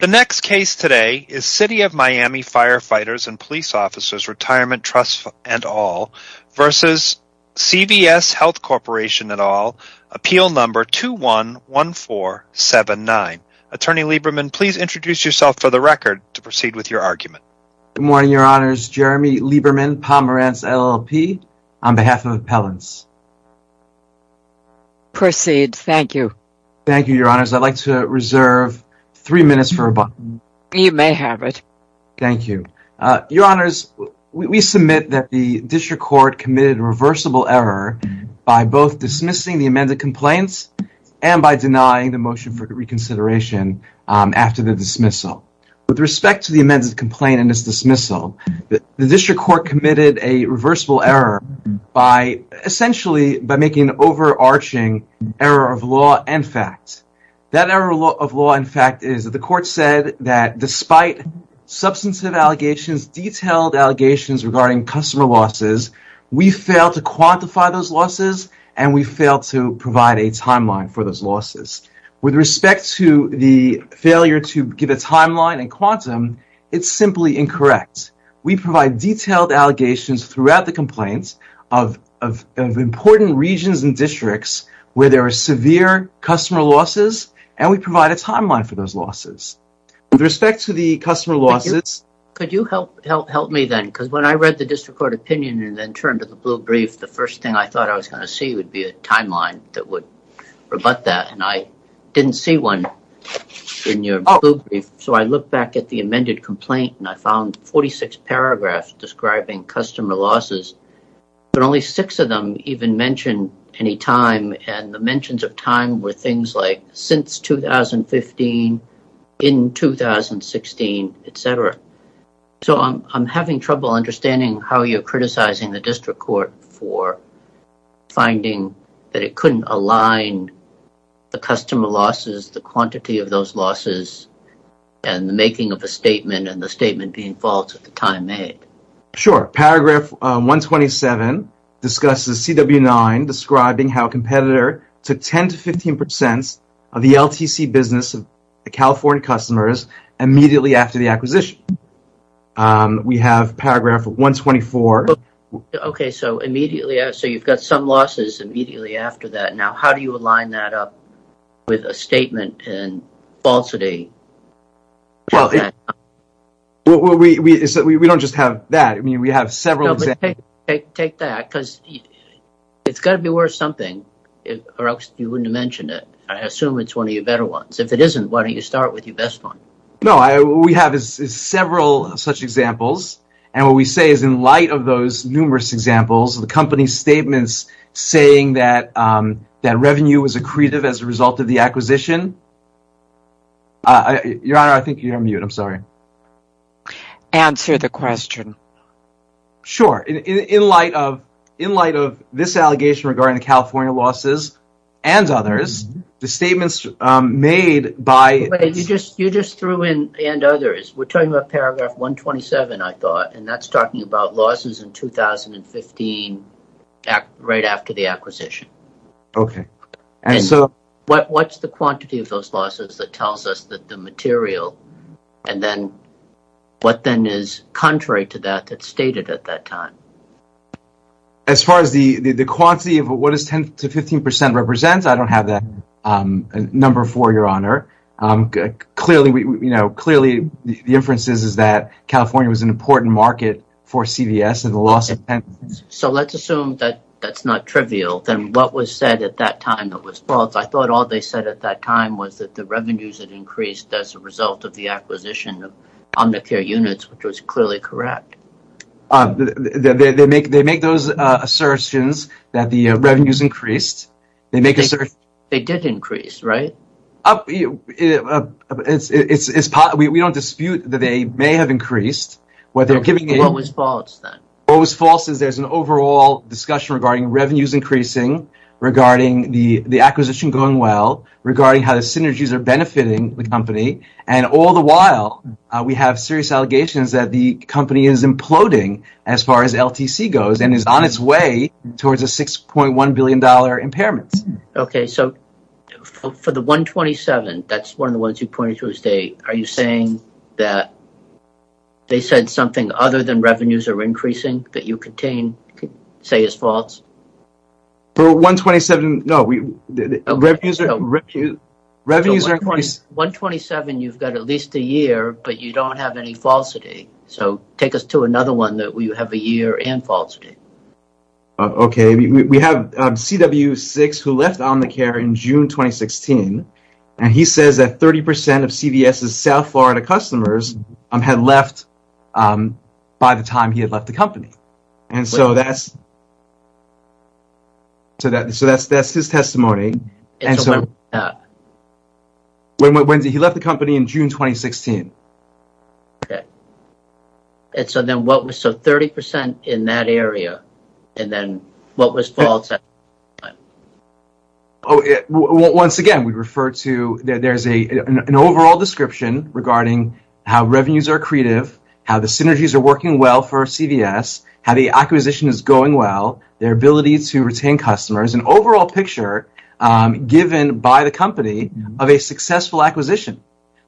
The next case today is City of Miami Fire Fighters & Police Ofcs Ret Tr v. CVS Health Corporation et al. Appeal No. 211479. Attorney Lieberman, please introduce yourself for the record to proceed with your argument. Good morning, Your Honors. Jeremy Lieberman, Pomerantz LLP, on behalf of Appellants. Proceed. Thank you. Thank you, Your Honors. I'd like to reserve three minutes for a button. You may have it. Thank you. Your Honors, we submit that the District Court committed a reversible error by both dismissing the amended complaints and by denying the motion for reconsideration after the dismissal. With respect to the amended complaint and its dismissal, the District That error of law, in fact, is that the Court said that despite substantive allegations, detailed allegations regarding customer losses, we failed to quantify those losses and we failed to provide a timeline for those losses. With respect to the failure to give a timeline and quantum, it's simply incorrect. We provide detailed allegations throughout the complaints of important regions and districts where there are severe customer losses, and we provide a timeline for those losses. With respect to the customer losses... Could you help me then? Because when I read the District Court opinion and then turned to the blue brief, the first thing I thought I was going to see would be a timeline that would rebut that, and I didn't see one in your blue brief. So I looked back at the amended complaint and I found 46 paragraphs describing customer losses, but only six of them even mention any time, and the mentions of time were things like, since 2015, in 2016, etc. So I'm having trouble understanding how you're criticizing the District Court for finding that it couldn't align the customer losses, the quantity of those losses, and the making of a statement and the statement being false at the time made. Sure. Paragraph 127 discusses CW9 describing how a competitor took 10 to 15% of the LTC business of the California customers immediately after the acquisition. We have paragraph 124... Okay, so immediately... So you've got some losses immediately after that. Now, how do you align that up with a statement and falsity? Well, we don't just have that. I mean, we have several examples... No, but take that because it's got to be worth something or else you wouldn't have mentioned it. I assume it's one of your better ones. If it isn't, why don't you start with your best one? No, we have several such examples, and what we say is in light of those numerous examples, the company's statements saying that revenue was accretive as a result of the acquisition... Your Honor, I think you're on mute. I'm sorry. Answer the question. Sure. In light of this allegation regarding the California losses and others, the statements made by... But you just threw in and others. We're talking about paragraph 127, I thought, and that's talking about losses in 2015 right after the acquisition. Okay. And what's the quantity of those losses that tells us that the material and then what then is contrary to that that's stated at that time? As far as the quantity of what is 10 to 15% represents, I don't have that number for you, Your Honor. Clearly, the inference is that California was an important market for CVS and the loss of... So let's assume that that's not trivial. Then what was said at that time that was false? I thought all they said at that time was that the revenues had increased as a result of the acquisition of Omnicare units, which was clearly correct. They make those assertions that the revenues increased. They did increase, right? We don't dispute that they may have increased. What was false then? What was false is there's an overall discussion regarding revenues increasing, regarding the acquisition going well, regarding how the synergies are benefiting the company. And all the while, we have serious allegations that the company is imploding as far as LTC goes and is on its way towards a $6.1 billion impairment. Okay. So for the 127, that's one of the ones you pointed to, are you saying that they said something other than revenues are increasing that you contain, say is false? For 127, no. Revenues are... For 127, you've got at least a year, but you don't have any falsity. So take us to another one that you have a year and falsity. Okay. We have CW6 who left Omnicare in June 2016. And he says that 30% of CVS' South Florida customers had left by the time he had left the company. And so that's... So that's his testimony. He left the company in June 2016. Okay. And so then what was... So 30% in that area, and then what was false at that time? Once again, we refer to... There's an overall description regarding how revenues are accretive, how the synergies are working well for CVS, how the acquisition is going well, their ability to retain customers, an overall picture given by the company of a successful acquisition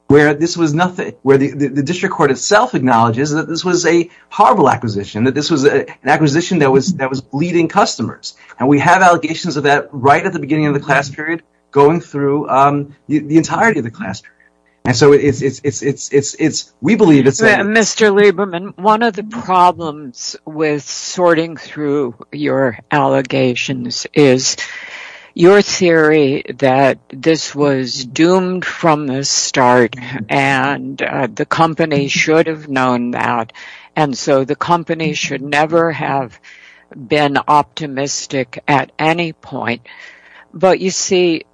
where this was nothing, where the district court itself acknowledges that this was a horrible acquisition, that this was an acquisition that was bleeding customers. And we have allegations of that right at the beginning of the class period going through the entirety of the class period. And so it's... We believe it's... Mr. Lieberman, one of the problems with sorting through your allegations is your theory that this was doomed from the start, and the company should have known that, and so the company should never have been optimistic at any point. But you see,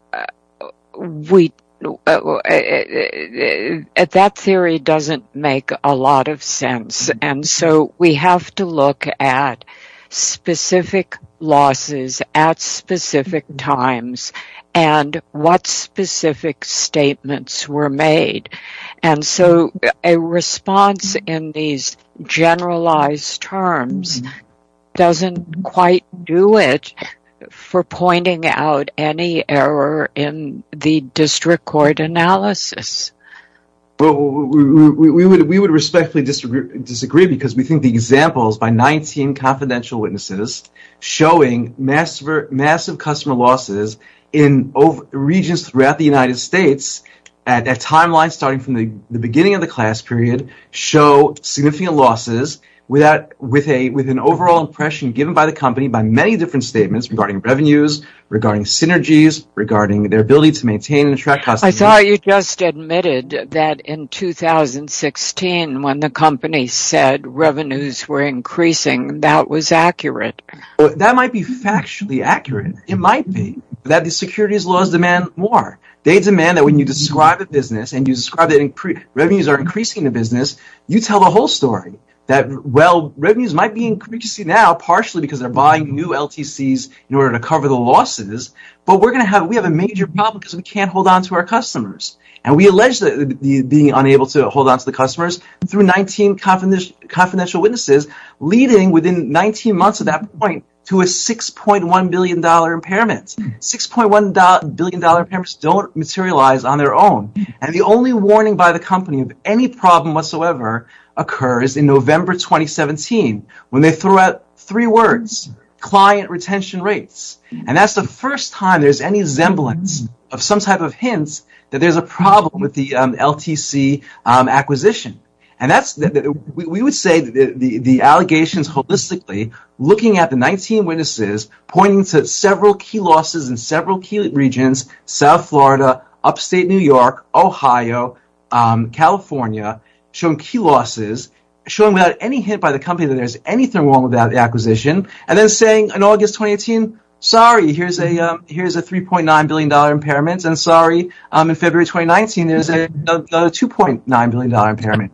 we... That theory doesn't make a lot of sense, and so we have to look at specific losses at specific times and what specific statements were made. And so a response in these generalized terms doesn't quite do it for pointing out any error in the district court analysis. Well, we would respectfully disagree because we think the examples by 19 confidential witnesses showing massive customer losses in regions throughout the United States at that timeline starting from the beginning of the class period show significant losses with an overall impression given by the company by many different statements regarding revenues, regarding synergies, regarding their ability to maintain and attract customers. I saw you just admitted that in 2016, when the company said revenues were increasing, that was accurate. That might be factually accurate. It might be that the securities laws demand more. They demand that when you describe a business and you describe that revenues are increasing in a business, you tell the whole story that, well, revenues might be increasing now partially because they're buying new LTCs in order to cover the losses, but we have a major problem because we can't hold on to our customers. And we allege being unable to hold on to the customers through 19 confidential witnesses leading within 19 months of that point to a $6.1 billion impairment. $6.1 billion impairments don't materialize on their own. And the only warning by the company of any problem whatsoever occurs in November 2017 when they throw out three words, client retention rates. And that's the first time there's any semblance of some type of hints that there's a problem with the LTC acquisition. And we would say the allegations holistically looking at the 19 witnesses pointing to several key losses in several key regions, South Florida, upstate New York, Ohio, California, showing key losses, showing without any hint by the company that there's anything wrong And then saying in August 2018, sorry, here's a $3.9 billion impairment. And sorry, in February 2019, there's a $2.9 billion impairment.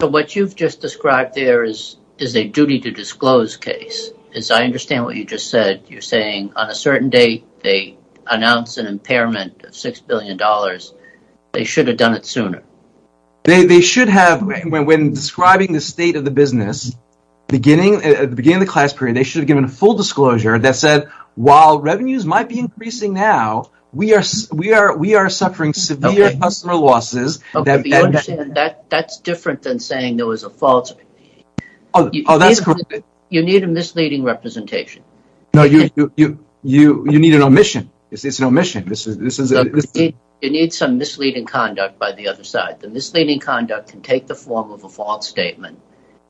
So what you've just described there is a duty to disclose case. As I understand what you just said, you're saying on a certain date, they announced an impairment of $6 billion. They should have done it sooner. They should have, when describing the state of the business, at the beginning of the class period, they should have given a full disclosure that said, while revenues might be increasing now, we are suffering severe customer losses. That's different than saying there was a fault. Oh, that's correct. You need a misleading representation. No, you need an omission. It's an omission. You need some misleading conduct by the other side. The misleading conduct can take the form of a fault statement.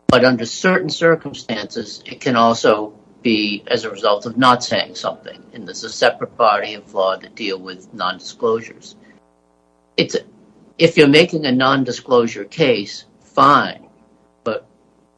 But under certain circumstances, it can also be as a result of not saying something. And there's a separate body of law that deal with nondisclosures. If you're making a nondisclosure case, fine. But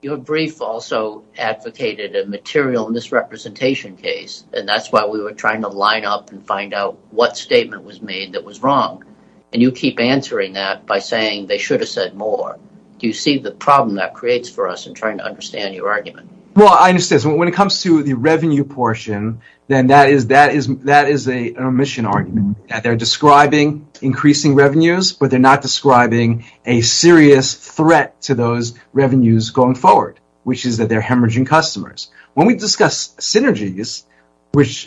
your brief also advocated a material misrepresentation case. And that's why we were trying to line up and find out what statement was made that was wrong. And you keep answering that by saying they should have said more. Do you see the problem that creates for us in trying to understand your argument? Well, I understand. When it comes to the revenue portion, then that is an omission argument. They're describing increasing revenues, but they're not describing a serious threat to those revenues going forward, which is that they're hemorrhaging customers. When we discuss synergies, which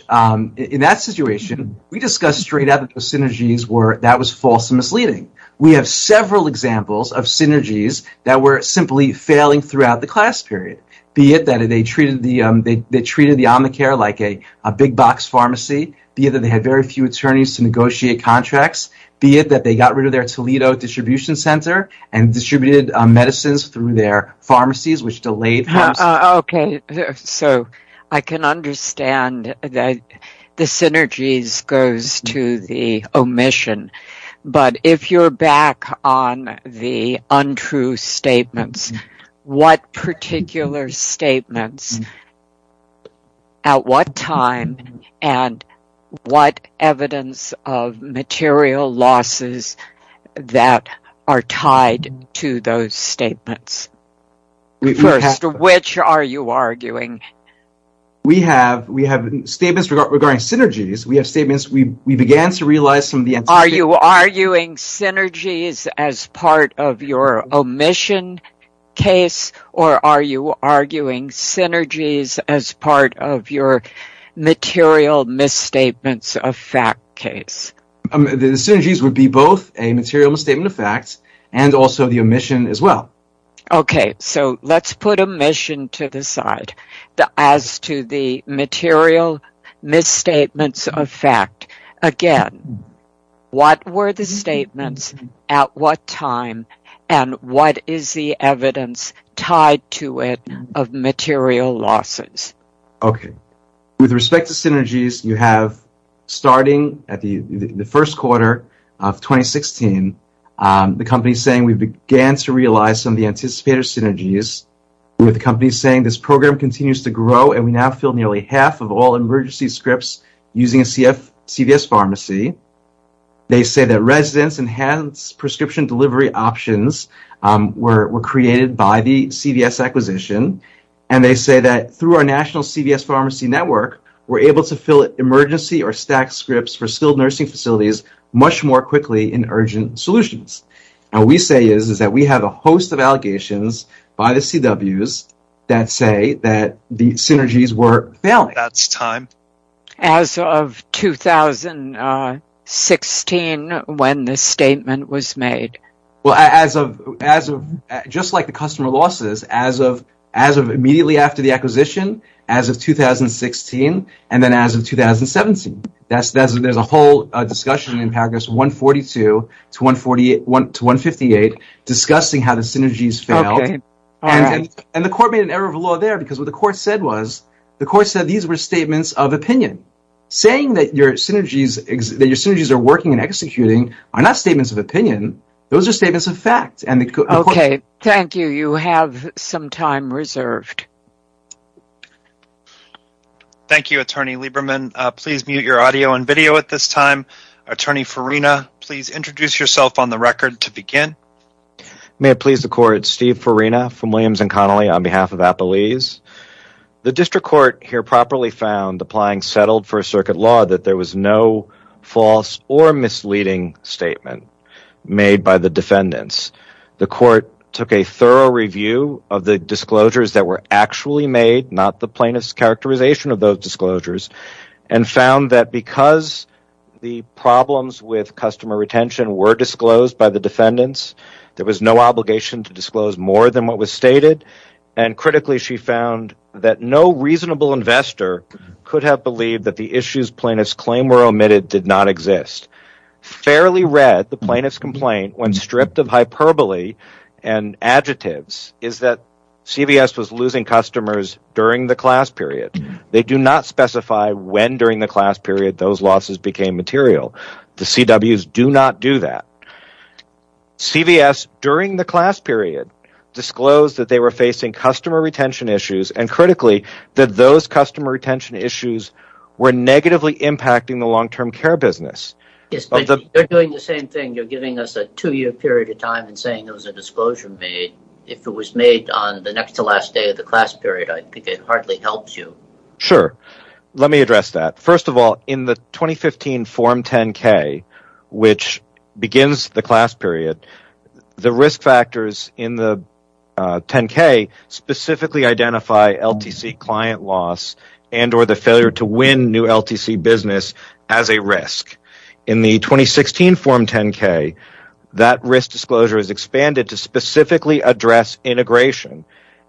in that situation, we discussed straight out synergies where that was false and misleading. We have several examples of synergies that were simply failing throughout the class period, be it that they treated the Omnicare like a big box pharmacy, be it that they had very few attorneys to negotiate contracts, be it that they got rid of their Toledo distribution center and distributed medicines through their pharmacies, which delayed. So I can understand that the synergies goes to the omission. But if you're back on the untrue statements, what particular statements, at what time, and what evidence of material losses that are tied to those statements? First, which are you arguing? We have statements regarding synergies. We have statements we began to realize some of the antecedents. Are you arguing synergies as part of your omission case, or are you arguing synergies as part of your material misstatements of fact case? The synergies would be both a material misstatement of facts and also the omission as well. Okay, so let's put omission to the side. As to the material misstatements of fact, again, what were the statements, at what time, and what is the evidence tied to it of material losses? Okay. With respect to synergies, you have, starting at the first quarter of 2016, the company saying we began to realize some of the anticipated synergies. We have the company saying this program continues to grow, and we now fill nearly half of all emergency scripts using a CVS pharmacy. They say that residents enhanced prescription delivery options were created by the CVS acquisition. And they say that through our national CVS pharmacy network, we're able to fill emergency or stacked scripts for skilled nursing facilities much more quickly in urgent solutions. And what we say is that we have a host of allegations by the CWs that say that the synergies were failing. That's time. As of 2016, when this statement was made. Well, just like the customer losses, as of immediately after the acquisition, as of 2016, and then as of 2017. There's a whole discussion in paragraph 142 to 158 discussing how the synergies failed. And the court made an error of law there because what the court said was, the court said these were statements of opinion. Saying that your synergies are working and executing are not statements of opinion. Those are statements of fact. Okay. Thank you. You have some time reserved. Thank you, Attorney Lieberman. Please mute your audio and video at this time. Attorney Farina, please introduce yourself on the record to begin. May it please the court. Steve Farina from Williams & Connolly on behalf of Appalese. The district court here properly found, applying settled first circuit law, that there was no false or misleading statement made by the defendants. The court took a thorough review of the disclosures that were actually made, not the plaintiff's characterization of those disclosures. And found that because the problems with customer retention were disclosed by the defendants, there was no obligation to disclose more than what was stated. And critically, she found that no reasonable investor could have believed that the issues plaintiff's claim were omitted did not exist. Fairly read, the plaintiff's complaint, when stripped of hyperbole and adjectives, is that CVS was losing customers during the class period. They do not specify when during the class period those losses became material. The CWs do not do that. CVS, during the class period, disclosed that they were facing customer retention issues. And critically, that those customer retention issues were negatively impacting the long-term care business. Yes, but you're doing the same thing. You're giving us a two-year period of time and saying there was a disclosure made. If it was made on the next to last day of the class period, I think it hardly helps you. Sure. Let me address that. First of all, in the 2015 Form 10-K, which begins the class period, the risk factors in the 10-K specifically identify LTC client loss and or the failure to win new LTC business as a risk. In the 2016 Form 10-K, that risk disclosure is expanded to specifically address integration.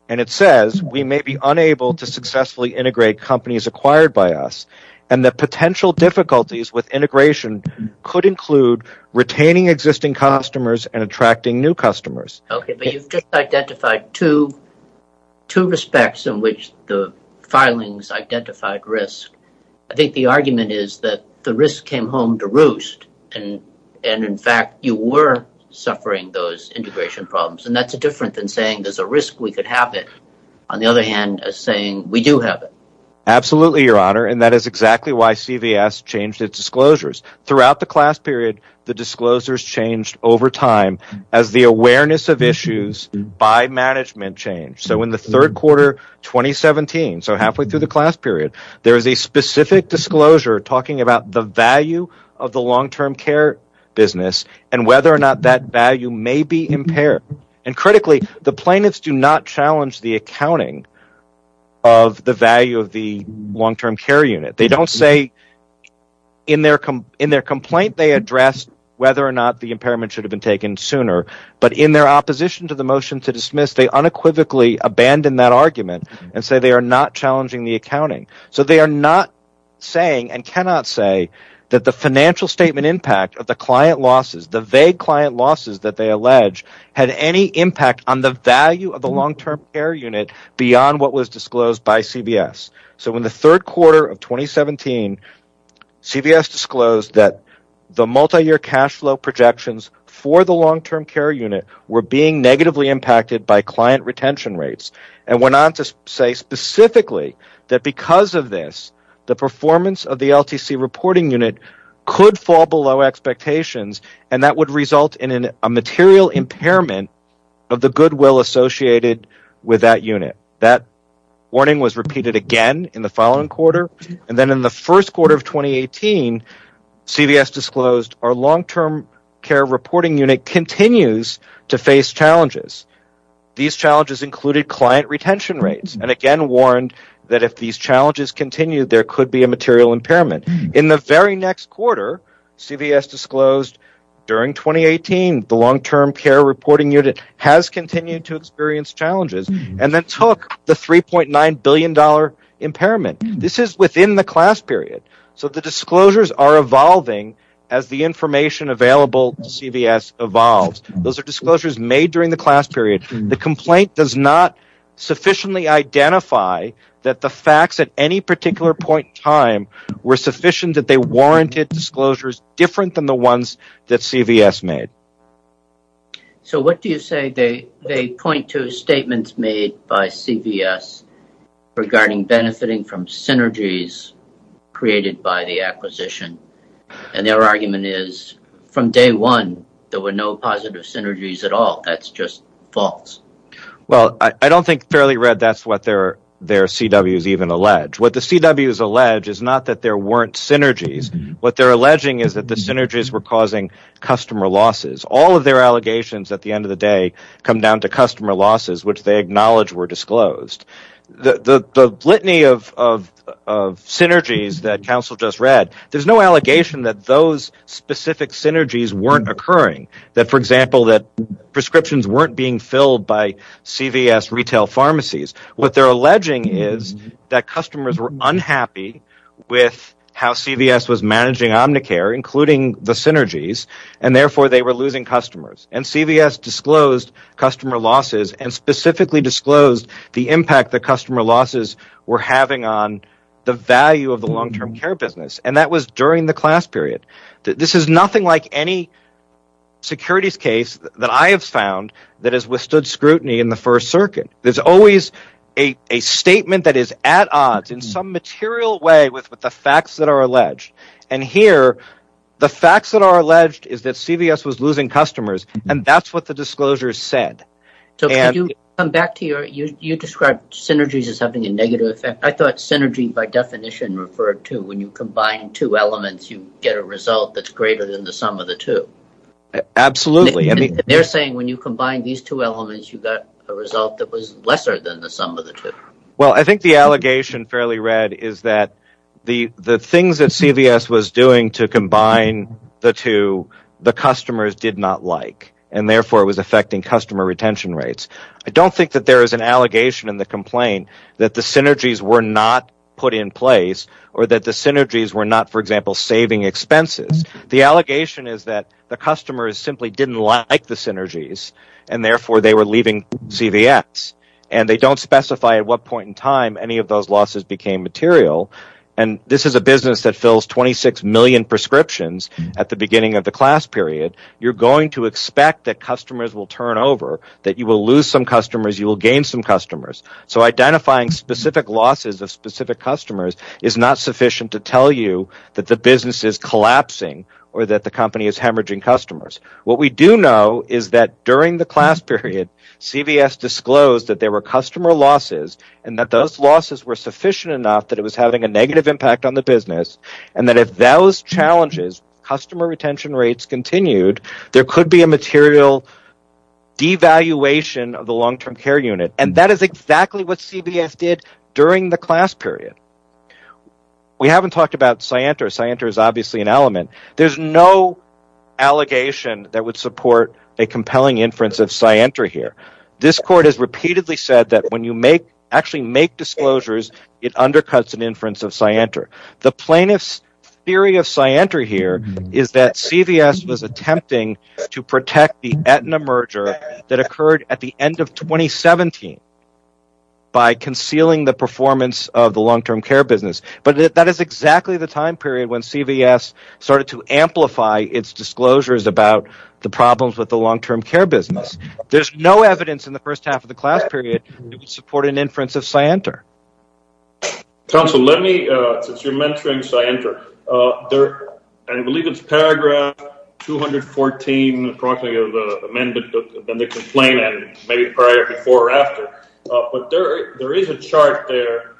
It says we may be unable to successfully integrate companies acquired by us and that potential difficulties with integration could include retaining existing customers and attracting new customers. Okay, but you've just identified two respects in which the filings identified risk. I think the argument is that the risk came home to roost and, in fact, you were suffering those integration problems. That's different than saying there's a risk we could have it. On the other hand, it's saying we do have it. Absolutely, Your Honor, and that is exactly why CVS changed its disclosures. Throughout the class period, the disclosures changed over time as the awareness of issues by management changed. In the third quarter of 2017, so halfway through the class period, there is a specific disclosure talking about the value of the long-term care business and whether or not that value may be impaired. Critically, the plaintiffs do not challenge the accounting of the value of the long-term care unit. In their complaint, they addressed whether or not the impairment should have been taken sooner, but in their opposition to the motion to dismiss, they unequivocally abandoned that argument and said they are not challenging the accounting. They are not saying and cannot say that the financial statement impact of the client losses, the vague client losses that they allege, had any impact on the value of the long-term care unit beyond what was disclosed by CVS. In the third quarter of 2017, CVS disclosed that the multi-year cash flow projections for the long-term care unit were being negatively impacted by client retention rates and went on to say specifically that because of this, the performance of the LTC reporting unit could fall below expectations and that would result in a material impairment of the goodwill associated with that unit. That warning was repeated again in the following quarter and then in the first quarter of 2018, CVS disclosed our long-term care reporting unit continues to face challenges. These challenges included client retention rates and again warned that if these challenges continue, there could be a material impairment. In the very next quarter, CVS disclosed during 2018, the long-term care reporting unit has continued to experience challenges and then took the $3.9 billion impairment. This is within the class period, so the disclosures are evolving as the information available to CVS evolves. Those are disclosures made during the class period. The complaint does not sufficiently identify that the facts at any particular point in time were sufficient that they warranted disclosures different than the ones that CVS made. What do you say they point to statements made by CVS regarding benefiting from synergies created by the acquisition? Their argument is from day one, there were no positive synergies at all. That's just false. I don't think fairly read that's what their CWs even allege. What the CWs allege is not that there weren't synergies. What they're alleging is that the synergies were causing customer losses. All of their allegations at the end of the day come down to customer losses, which they acknowledge were disclosed. The litany of synergies that counsel just read, there's no allegation that those specific synergies weren't occurring. For example, that prescriptions weren't being filled by CVS retail pharmacies. What they're alleging is that customers were unhappy with how CVS was managing Omnicare including the synergies and therefore they were losing customers. CVS disclosed customer losses and specifically disclosed the impact the customer losses were having on the value of the long-term care business. That was during the class period. This is nothing like any securities case that I have found that has withstood scrutiny in the first circuit. There's always a statement that is at odds in some material way with the facts that are alleged. Here, the facts that are alleged is that CVS was losing customers and that's what the disclosure said. You described synergies as having a negative effect. I thought synergy by definition referred to when you combine two elements, you get a result that's greater than the sum of the two. Absolutely. They're saying when you combine these two elements, you got a result that was lesser than the sum of the two. I think the allegation fairly read is that the things that CVS was doing to combine the two, the customers did not like and therefore it was affecting customer retention rates. I don't think that there is an allegation in the complaint that the synergies were not put in place or that the synergies were not, for example, saving expenses. The allegation is that the customers simply didn't like the synergies and therefore they were leaving CVS. They don't specify at what point in time any of those losses became material. This is a business that fills 26 million prescriptions at the beginning of the class period. You're going to expect that customers will turn over, that you will lose some customers, you will gain some customers. So identifying specific losses of specific customers is not sufficient to tell you that the business is collapsing or that the company is hemorrhaging customers. What we do know is that during the class period, CVS disclosed that there were customer losses and that those losses were sufficient enough that it was having a negative impact on the business and that if those challenges, customer retention rates continued, there could be a material devaluation of the long-term care unit. That is exactly what CVS did during the class period. We haven't talked about Scienter. Scienter is obviously an element. There's no allegation that would support a compelling inference of Scienter here. This court has repeatedly said that when you actually make disclosures, it undercuts an inference of Scienter. The plaintiff's theory of Scienter here is that CVS was attempting to protect the Aetna merger that occurred at the end of 2017 by concealing the performance of the long-term care business. But that is exactly the time period when CVS started to amplify its disclosures about the problems with the long-term care business. There's no evidence in the first half of the class period that would support an inference of Scienter. Council, let me, since you're mentoring Scienter, I believe it's paragraph 214 approximately of the amendment of the complaint and maybe prior, before or after. But there is a chart there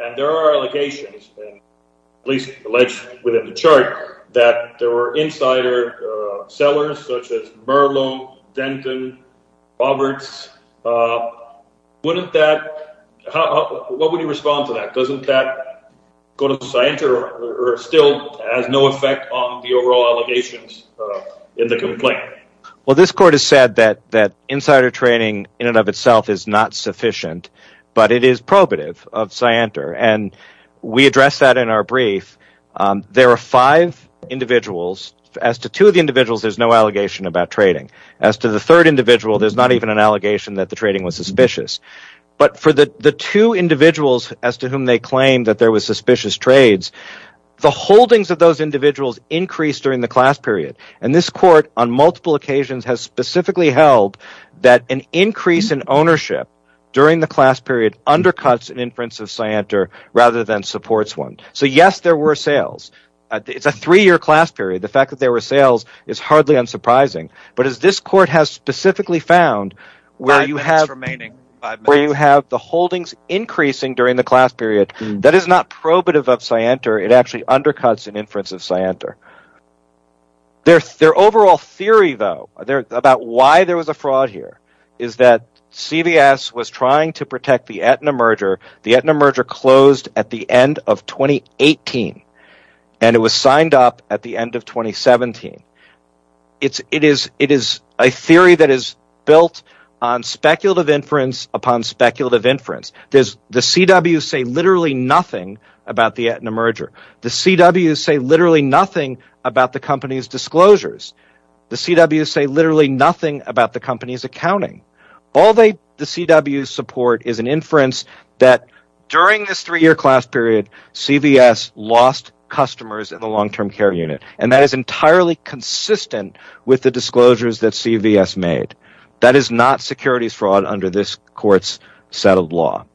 and there are allegations, at least alleged within the chart, that there were insider sellers such as Merlo, Denton, Roberts. Wouldn't that – what would you respond to that? Doesn't that go to Scienter or still has no effect on the overall allegations in the complaint? Well, this court has said that insider trading in and of itself is not sufficient, but it is probative of Scienter. And we addressed that in our brief. There are five individuals. As to two of the individuals, there's no allegation about trading. As to the third individual, there's not even an allegation that the trading was suspicious. But for the two individuals as to whom they claim that there was suspicious trades, the holdings of those individuals increased during the class period. And this court on multiple occasions has specifically held that an increase in ownership during the class period undercuts an inference of Scienter rather than supports one. So yes, there were sales. It's a three-year class period. The fact that there were sales is hardly unsurprising. But as this court has specifically found, where you have the holdings increasing during the class period, that is not probative of Scienter. It actually undercuts an inference of Scienter. Their overall theory, though, about why there was a fraud here is that CVS was trying to protect the Aetna merger. The Aetna merger closed at the end of 2018, and it was signed up at the end of 2017. It is a theory that is built on speculative inference upon speculative inference. The CWs say literally nothing about the Aetna merger. The CWs say literally nothing about the company's disclosures. The CWs say literally nothing about the company's accounting. All the CWs support is an inference that during this three-year class period, CVS lost customers in the long-term care unit. That is entirely consistent with the disclosures that CVS made. That is not securities fraud under this court's settled law.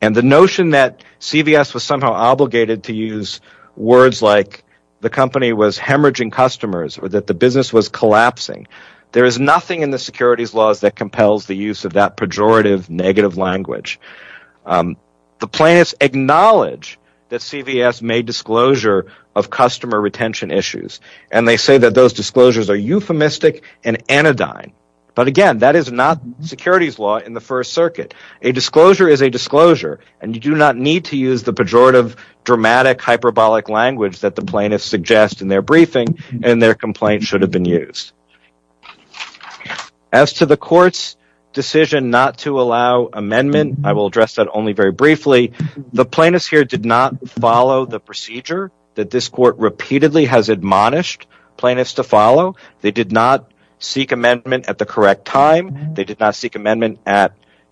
The notion that CVS was somehow obligated to use words like the company was hemorrhaging customers or that the business was collapsing, there is nothing in the securities laws that compels the use of that pejorative negative language. The plaintiffs acknowledge that CVS made disclosure of customer retention issues, and they say that those disclosures are euphemistic and anodyne. But again, that is not securities law in the First Circuit. A disclosure is a disclosure, and you do not need to use the pejorative dramatic hyperbolic language that the plaintiffs suggest in their briefing, and their complaint should have been used. As to the court's decision not to allow amendment, I will address that only very briefly. The plaintiffs here did not follow the procedure that this court repeatedly has admonished plaintiffs to follow. They did not seek amendment at the correct time. They did not seek amendment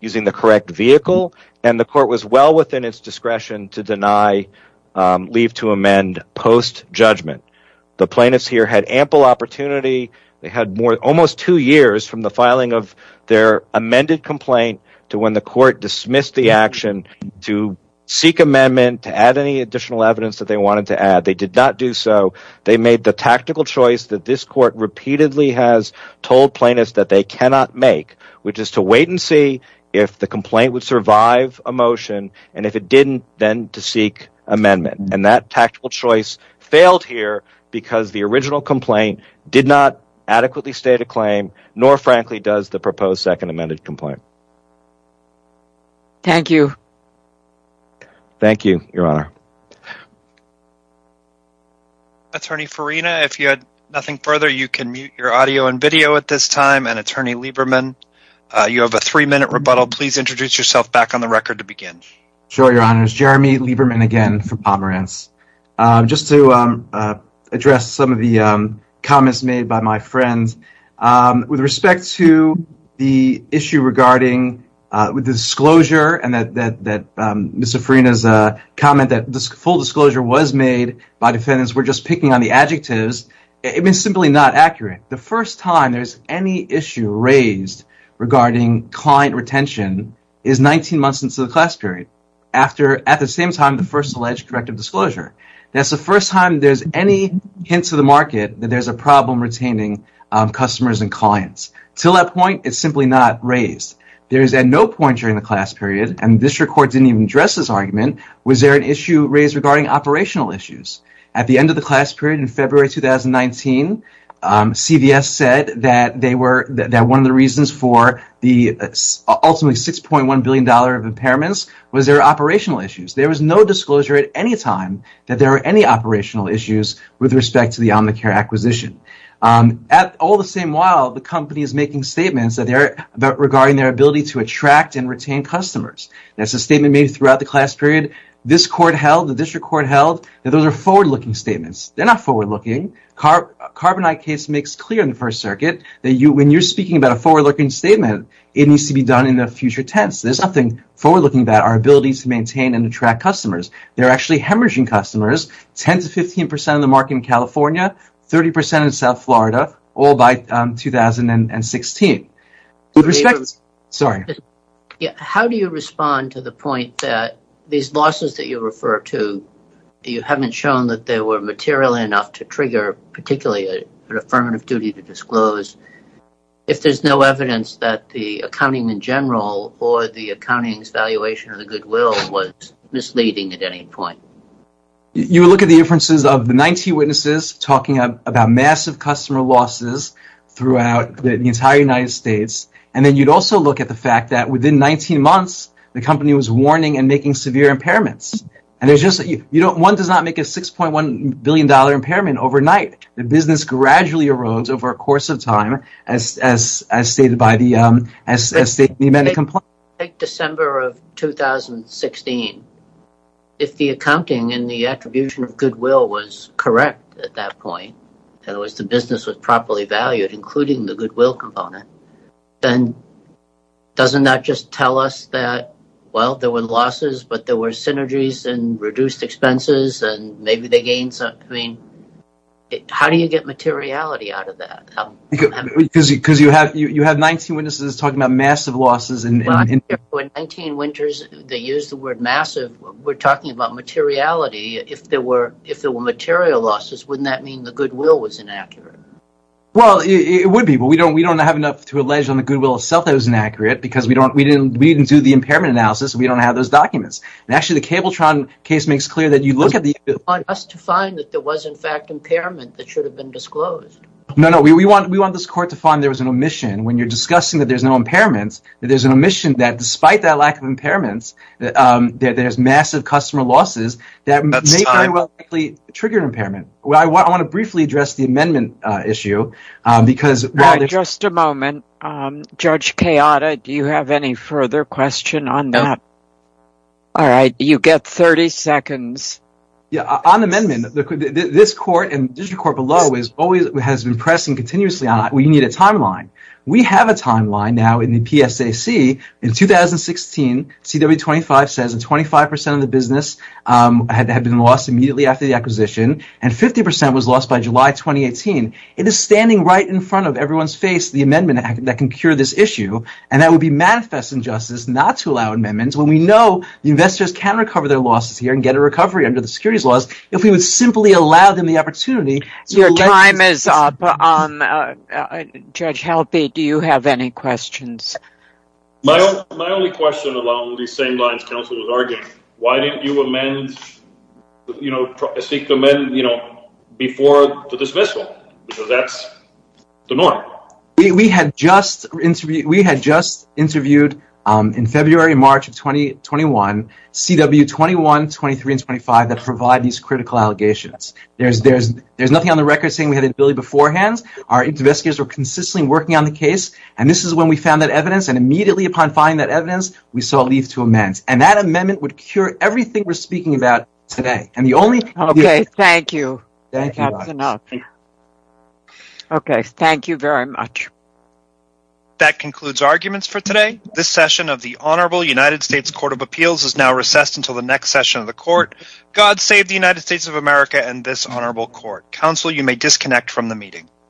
using the correct vehicle, and the court was well within its discretion to leave to amend post-judgment. The plaintiffs here had ample opportunity. They had almost two years from the filing of their amended complaint to when the court dismissed the action to seek amendment to add any additional evidence that they wanted to add. They did not do so. They made the tactical choice that this court repeatedly has told plaintiffs that they cannot make, which is to wait and see if the complaint would survive a motion, and if it did not, then to seek amendment. And that tactical choice failed here because the original complaint did not adequately state a claim, nor frankly does the proposed second amended complaint. Thank you. Thank you, Your Honor. Attorney Farina, if you had nothing further, you can mute your audio and video at this time. And, Attorney Lieberman, you have a three-minute rebuttal. Please introduce yourself back on the record to begin. Sure, Your Honor. It's Jeremy Lieberman again from Pomerantz. Just to address some of the comments made by my friends, with respect to the issue regarding disclosure, and Mr. Farina's comment that full disclosure was made by defendants were just picking on the adjectives, it was simply not accurate. The first time there's any issue raised regarding client retention is 19 months into the class period, at the same time the first alleged corrective disclosure. That's the first time there's any hint to the market that there's a problem retaining customers and clients. To that point, it's simply not raised. There is at no point during the class period, and this court didn't even address this argument, was there an issue raised regarding operational issues. At the end of the class period in February 2019, CVS said that one of the reasons for the ultimately $6.1 billion of impairments was there were operational issues. There was no disclosure at any time that there were any operational issues with respect to the Omnicare acquisition. At all the same while, the company is making statements regarding their ability to attract and retain customers. That's a statement made throughout the class period. The district court held that those are forward-looking statements. They're not forward-looking. The Carbonite case makes clear in the First Circuit that when you're speaking about a forward-looking statement, it needs to be done in the future tense. There's nothing forward-looking about our ability to maintain and attract customers. They're actually hemorrhaging customers, 10% to 15% of the market in California, 30% in South Florida, all by 2016. Sorry. How do you respond to the point that these losses that you refer to, you haven't shown that they were material enough to trigger particularly an affirmative duty to disclose, if there's no evidence that the accounting in general or the accounting's valuation of the goodwill was misleading at any point? You would look at the inferences of the 19 witnesses talking about massive customer losses throughout the entire United States, and then you'd also look at the fact that within 19 months, the company was warning and making severe impairments. One does not make a $6.1 billion impairment overnight. The business gradually erodes over a course of time, as stated by the amended complaint. Take December of 2016. If the accounting and the attribution of goodwill was correct at that point, and the business was properly valued, including the goodwill component, then doesn't that just tell us that, well, there were losses, but there were synergies and reduced expenses, and maybe they gained something? How do you get materiality out of that? You have 19 witnesses talking about massive losses. In 19 winters, they used the word massive. We're talking about materiality. If there were material losses, wouldn't that mean the goodwill was inaccurate? It would be, but we don't have enough to allege on the goodwill itself that it was inaccurate because we didn't do the impairment analysis. We don't have those documents. Actually, the Cabletron case makes clear that you look at the… You want us to find that there was, in fact, impairment that should have been disclosed. No, no. We want this court to find there was an omission. When you're discussing that there's no impairments, there's an omission that despite that lack of impairments, there's massive customer losses that may very well likely trigger an impairment. I want to briefly address the amendment issue because… All right. Just a moment. Judge Kayada, do you have any further question on that? No. All right. You get 30 seconds. On the amendment, this court and the district court below has been pressing continuously on it. We need a timeline. We have a timeline now in the PSAC. In 2016, CW25 says that 25% of the business had been lost immediately after the acquisition, and 50% was lost by July 2018. It is standing right in front of everyone's face, the amendment that can cure this issue. That would be manifest injustice not to allow amendments when we know the investors can recover their losses here and get a recovery under the securities laws if we would simply allow them the opportunity. Your time is up. Judge Halby, do you have any questions? My only question along these same lines counsel was arguing. Why didn't you seek to amend before the dismissal because that's the norm? We had just interviewed in February and March of 2021, CW21, 23, and 25 that provide these critical allegations. There's nothing on the record saying we had an ability beforehand. Our investigators were consistently working on the case, and this is when we found that evidence, and immediately upon finding that evidence, we saw a need to amend. And that amendment would cure everything we're speaking about today. Okay. Thank you. That's enough. Okay. Thank you very much. That concludes arguments for today. This session of the Honorable United States Court of Appeals is now recessed until the next session of the court. God save the United States of America and this honorable court. Counsel, you may disconnect from the meeting.